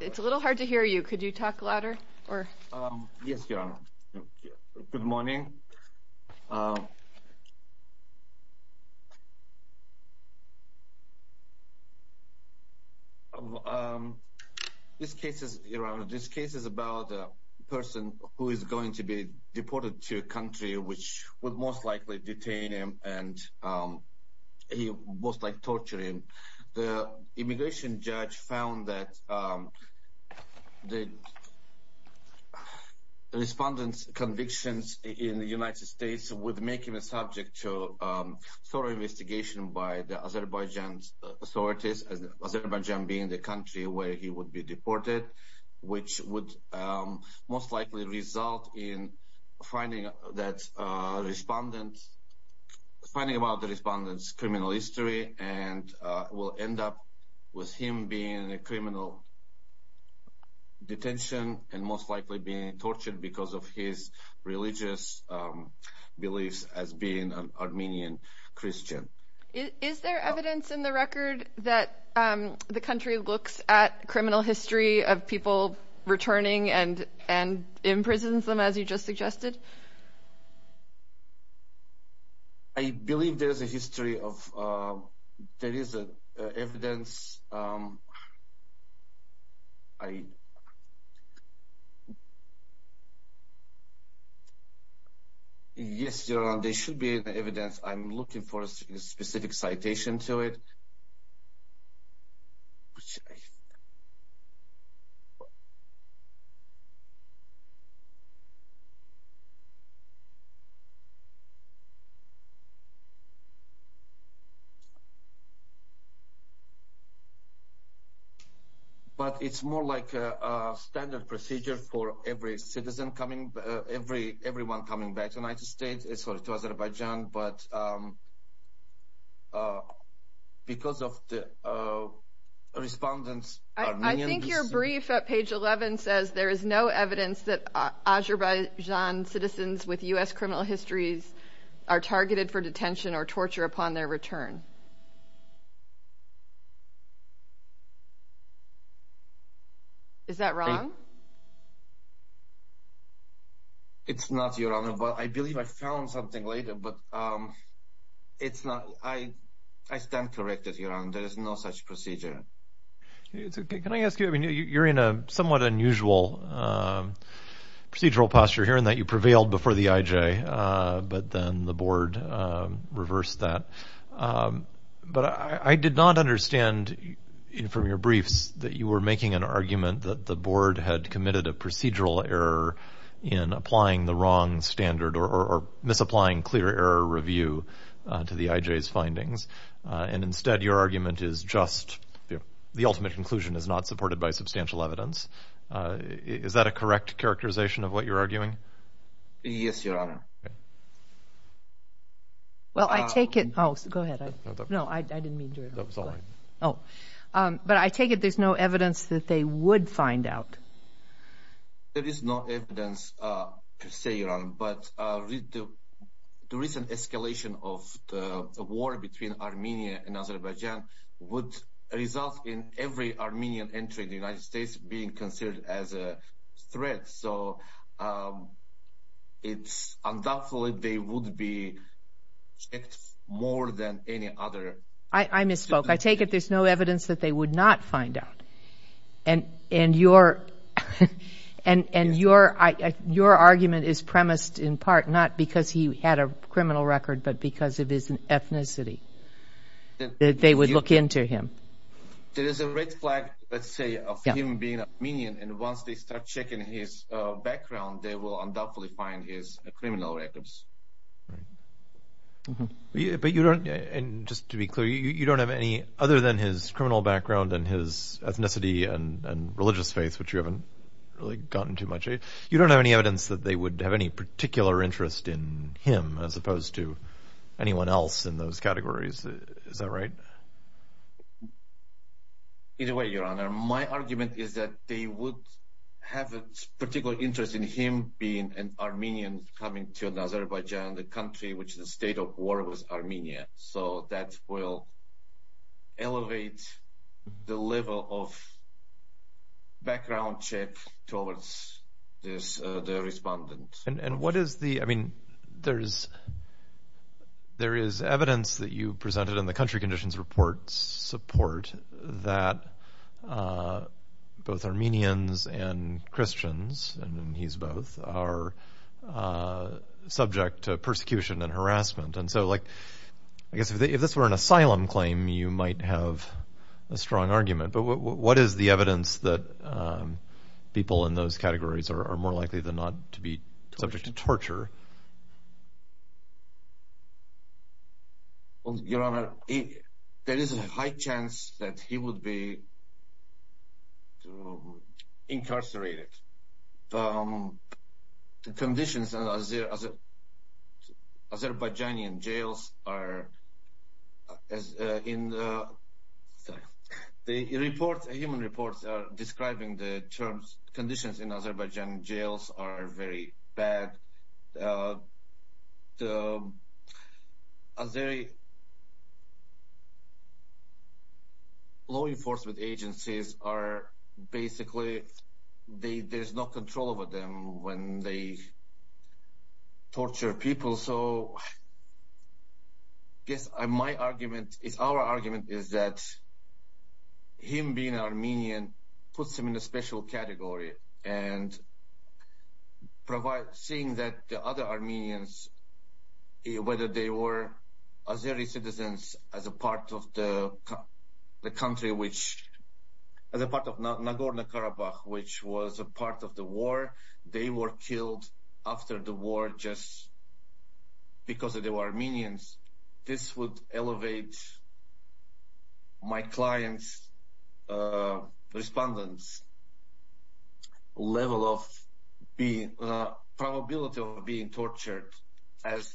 It's a little hard to hear you. Could you talk louder? Yes, Your Honor. Good morning. This case is about a person who is going to be deported to a country which would most likely detain him and he would most likely torture him. The immigration judge found that the respondent's convictions in the United States would make him a subject to thorough investigation by the Azerbaijan authorities, Azerbaijan being the country where he would be deported, which would most likely result in finding out about the respondent's criminal history and will end up with him being in criminal detention and most likely being tortured because of his religious beliefs as being an Armenian Christian. Is there evidence in the record that the country looks at criminal history of people returning and imprisons them as you just suggested? I believe there is evidence. Yes, Your Honor, there should be evidence. I'm looking for a specific citation to it. But it's more like a standard procedure for every citizen coming, everyone coming back to the United States, sorry to Azerbaijan. I think your brief at page 11 says there is no evidence that Azerbaijan citizens with U.S. criminal histories are targeted for detention or torture upon their return. Is that wrong? It's not, Your Honor, but I believe I found something later, but it's not. I stand corrected, Your Honor. There is no such procedure. Can I ask you, you're in a somewhat unusual procedural posture here in that you prevailed before the IJ, but then the board reversed that. But I did not understand from your briefs that you were making an argument that the board had committed a procedural error in applying the wrong standard or misapplying clear error review to the IJ's findings. And instead, your argument is just the ultimate conclusion is not supported by substantial evidence. Is that a correct characterization of what you're arguing? Yes, Your Honor. Well, I take it. Oh, go ahead. No, I didn't mean to. Oh, but I take it there's no evidence that they would find out. There is no evidence, per se, Your Honor, but the recent escalation of the war between Armenia and Azerbaijan would result in every Armenian entering the United States being considered as a threat. So it's undoubtful that they would be checked more than any other. I misspoke. I take it there's no evidence that they would not find out. And your argument is premised in part not because he had a criminal record, but because of his ethnicity, that they would look into him. There is a red flag, let's say, of him being Armenian. And once they start checking his background, they will undoubtedly find his criminal records. But you don't, and just to be clear, you don't have any, other than his criminal background and his ethnicity and religious faith, which you haven't really gotten too much, you don't have any evidence that they would have any particular interest in him as opposed to anyone else in those categories. Is that right? Either way, Your Honor, my argument is that they would have a particular interest in him being an Armenian coming to Azerbaijan, the country which the state of war was Armenia. So that will elevate the level of background check towards this, the respondent. And what is the, I mean, there is evidence that you presented in the country conditions reports support that both Armenians and Christians, and he's both, are subject to persecution and harassment. And so like, I guess if this were an asylum claim, you might have a strong argument. But what is the evidence that people in those categories are more likely than not to be subject to torture? Well, Your Honor, there is a high chance that he would be incarcerated. Conditions in Azerbaijani jails are, in the reports, human reports are describing the terms, conditions in Azerbaijani jails are very bad. The Azerbaijani law enforcement agencies are basically, there is no control over them when they torture people. And so, I guess my argument is, our argument is that him being Armenian puts him in a special category. And seeing that the other Armenians, whether they were Azerbaijani citizens as a part of the country which, as a part of Nagorno-Karabakh, which was a part of the war, they were killed after the war just because they were Armenians, this would elevate my client's respondents' level of probability of being tortured as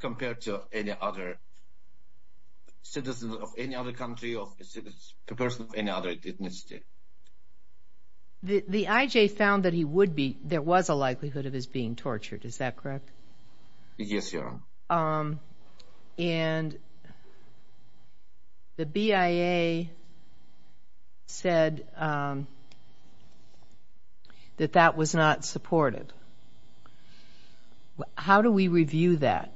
compared to any other citizen of any other country or a person of any other ethnicity. The IJ found that he would be, there was a likelihood of his being tortured, is that correct? And the BIA said that that was not supportive. How do we review that?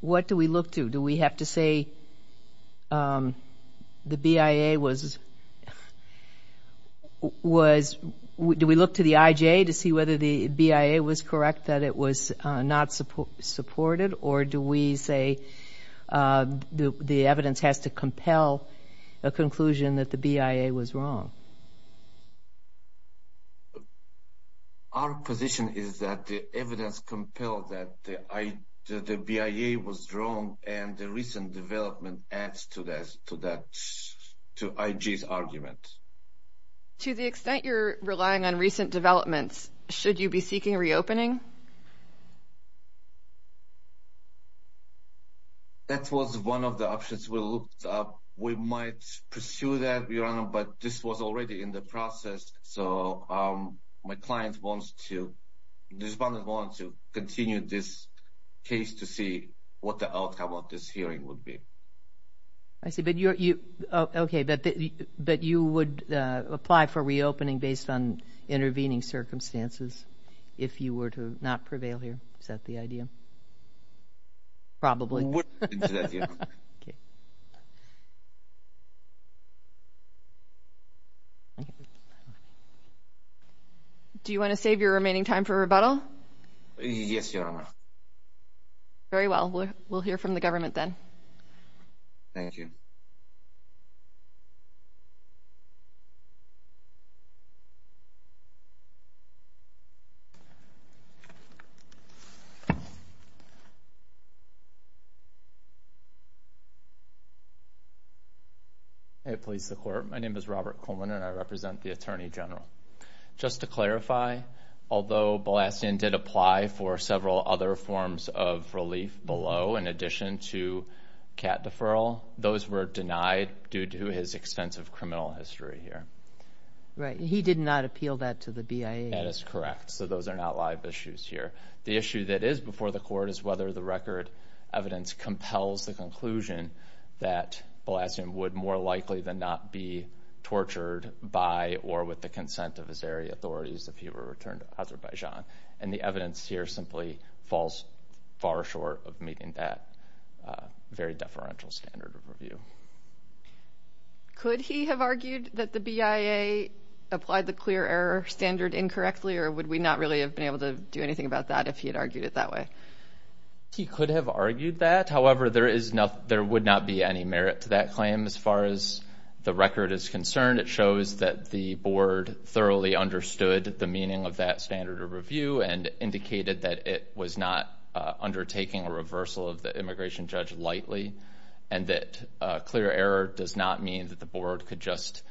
What do we look to? Do we have to say the BIA was, do we look to the IJ to see whether the BIA was correct? Do we say that it was not supported? Or do we say the evidence has to compel a conclusion that the BIA was wrong? Our position is that the evidence compels that the BIA was wrong and the recent development adds to that, to IJ's argument. To the extent you're relying on recent developments, should you be seeking reopening? That was one of the options we looked up. We might pursue that, Your Honor, but this was already in the process, so my client wants to, the respondents want to continue this case to see what the outcome of this hearing would be. I see, but you, okay, but you would apply for reopening based on intervening circumstances if you were to not prevail here. Is that the idea? Probably. Do you want to save your remaining time for rebuttal? Yes, Your Honor. Very well. We'll hear from the government then. Thank you. Thank you, Your Honor. Right. He did not appeal that to the BIA. That is correct, so those are not live issues here. The issue that is before the court is whether the record evidence compels the conclusion that Balazsian would more likely than not be tortured by or with the consent of Azeri authorities if he were returned to Azerbaijan. And the evidence here simply falls far short of meeting that very deferential standard of review. Could he have argued that the BIA applied the clear error standard incorrectly, or would we not really have been able to do anything about that if he had argued it that way? He could have argued that. However, there would not be any merit to that claim as far as the record is concerned. It shows that the board thoroughly understood the meaning of that standard of review and indicated that it was not undertaking a reversal of the immigration judge lightly, and that clear error does not mean that the board could just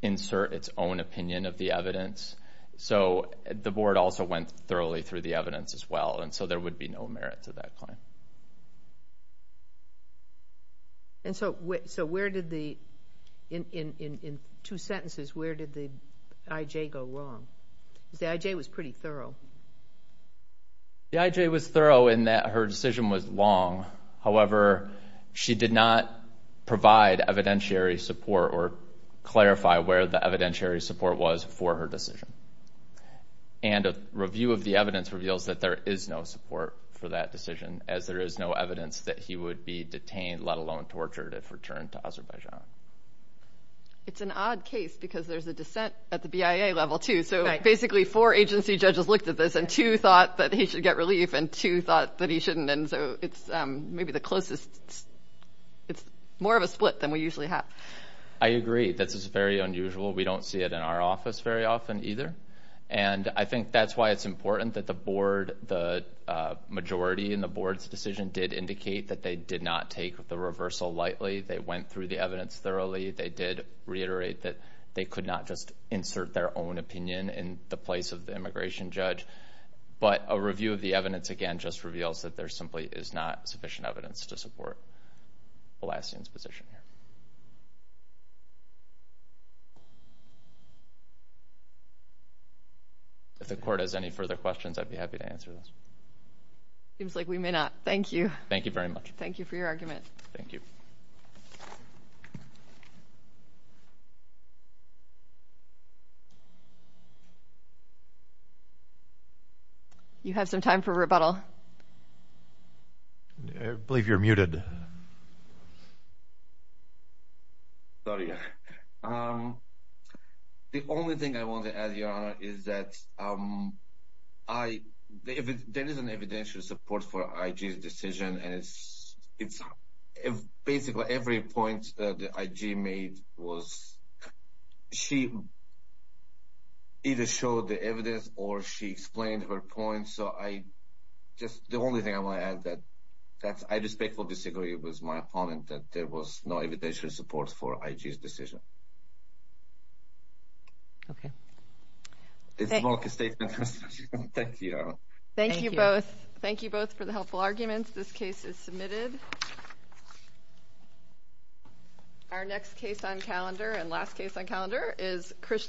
insert its own opinion of the evidence. So the board also went thoroughly through the evidence as well, and so there would be no merit to that claim. And so where did the, in two sentences, where did the I.J. go wrong? Because the I.J. was pretty thorough. The I.J. was thorough in that her decision was long. However, she did not provide evidentiary support or clarify where the evidentiary support was for her decision. And a review of the evidence reveals that there is no support for that decision, as there is no evidence that he would be detained, let alone tortured, if returned to Azerbaijan. It's an odd case because there's a dissent at the BIA level, too. So basically four agency judges looked at this, and two thought that he should get relief, and two thought that he shouldn't. And so it's maybe the closest, it's more of a split than we usually have. I agree. This is very unusual. We don't see it in our office very often either. And I think that's why it's important that the board, the majority in the board's decision, did indicate that they did not take the reversal lightly. They went through the evidence thoroughly. They did reiterate that they could not just insert their own opinion in the place of the immigration judge. But a review of the evidence, again, just reveals that there simply is not sufficient evidence to support Alassian's position here. Thank you. If the court has any further questions, I'd be happy to answer those. Seems like we may not. Thank you. Thank you very much. Thank you for your argument. Thank you. I believe you're muted. Sorry. The only thing I want to add, Your Honor, is that there is an evidential support for IG's decision. And it's basically every point that IG made was, she either showed the evidence or she explained her point. The only thing I want to add is that I respectfully disagree with my opponent that there was no evidential support for IG's decision. Okay. Thank you. Thank you both. Thank you both for the helpful arguments. This case is submitted. Our next case on calendar and last case on calendar is Krishna.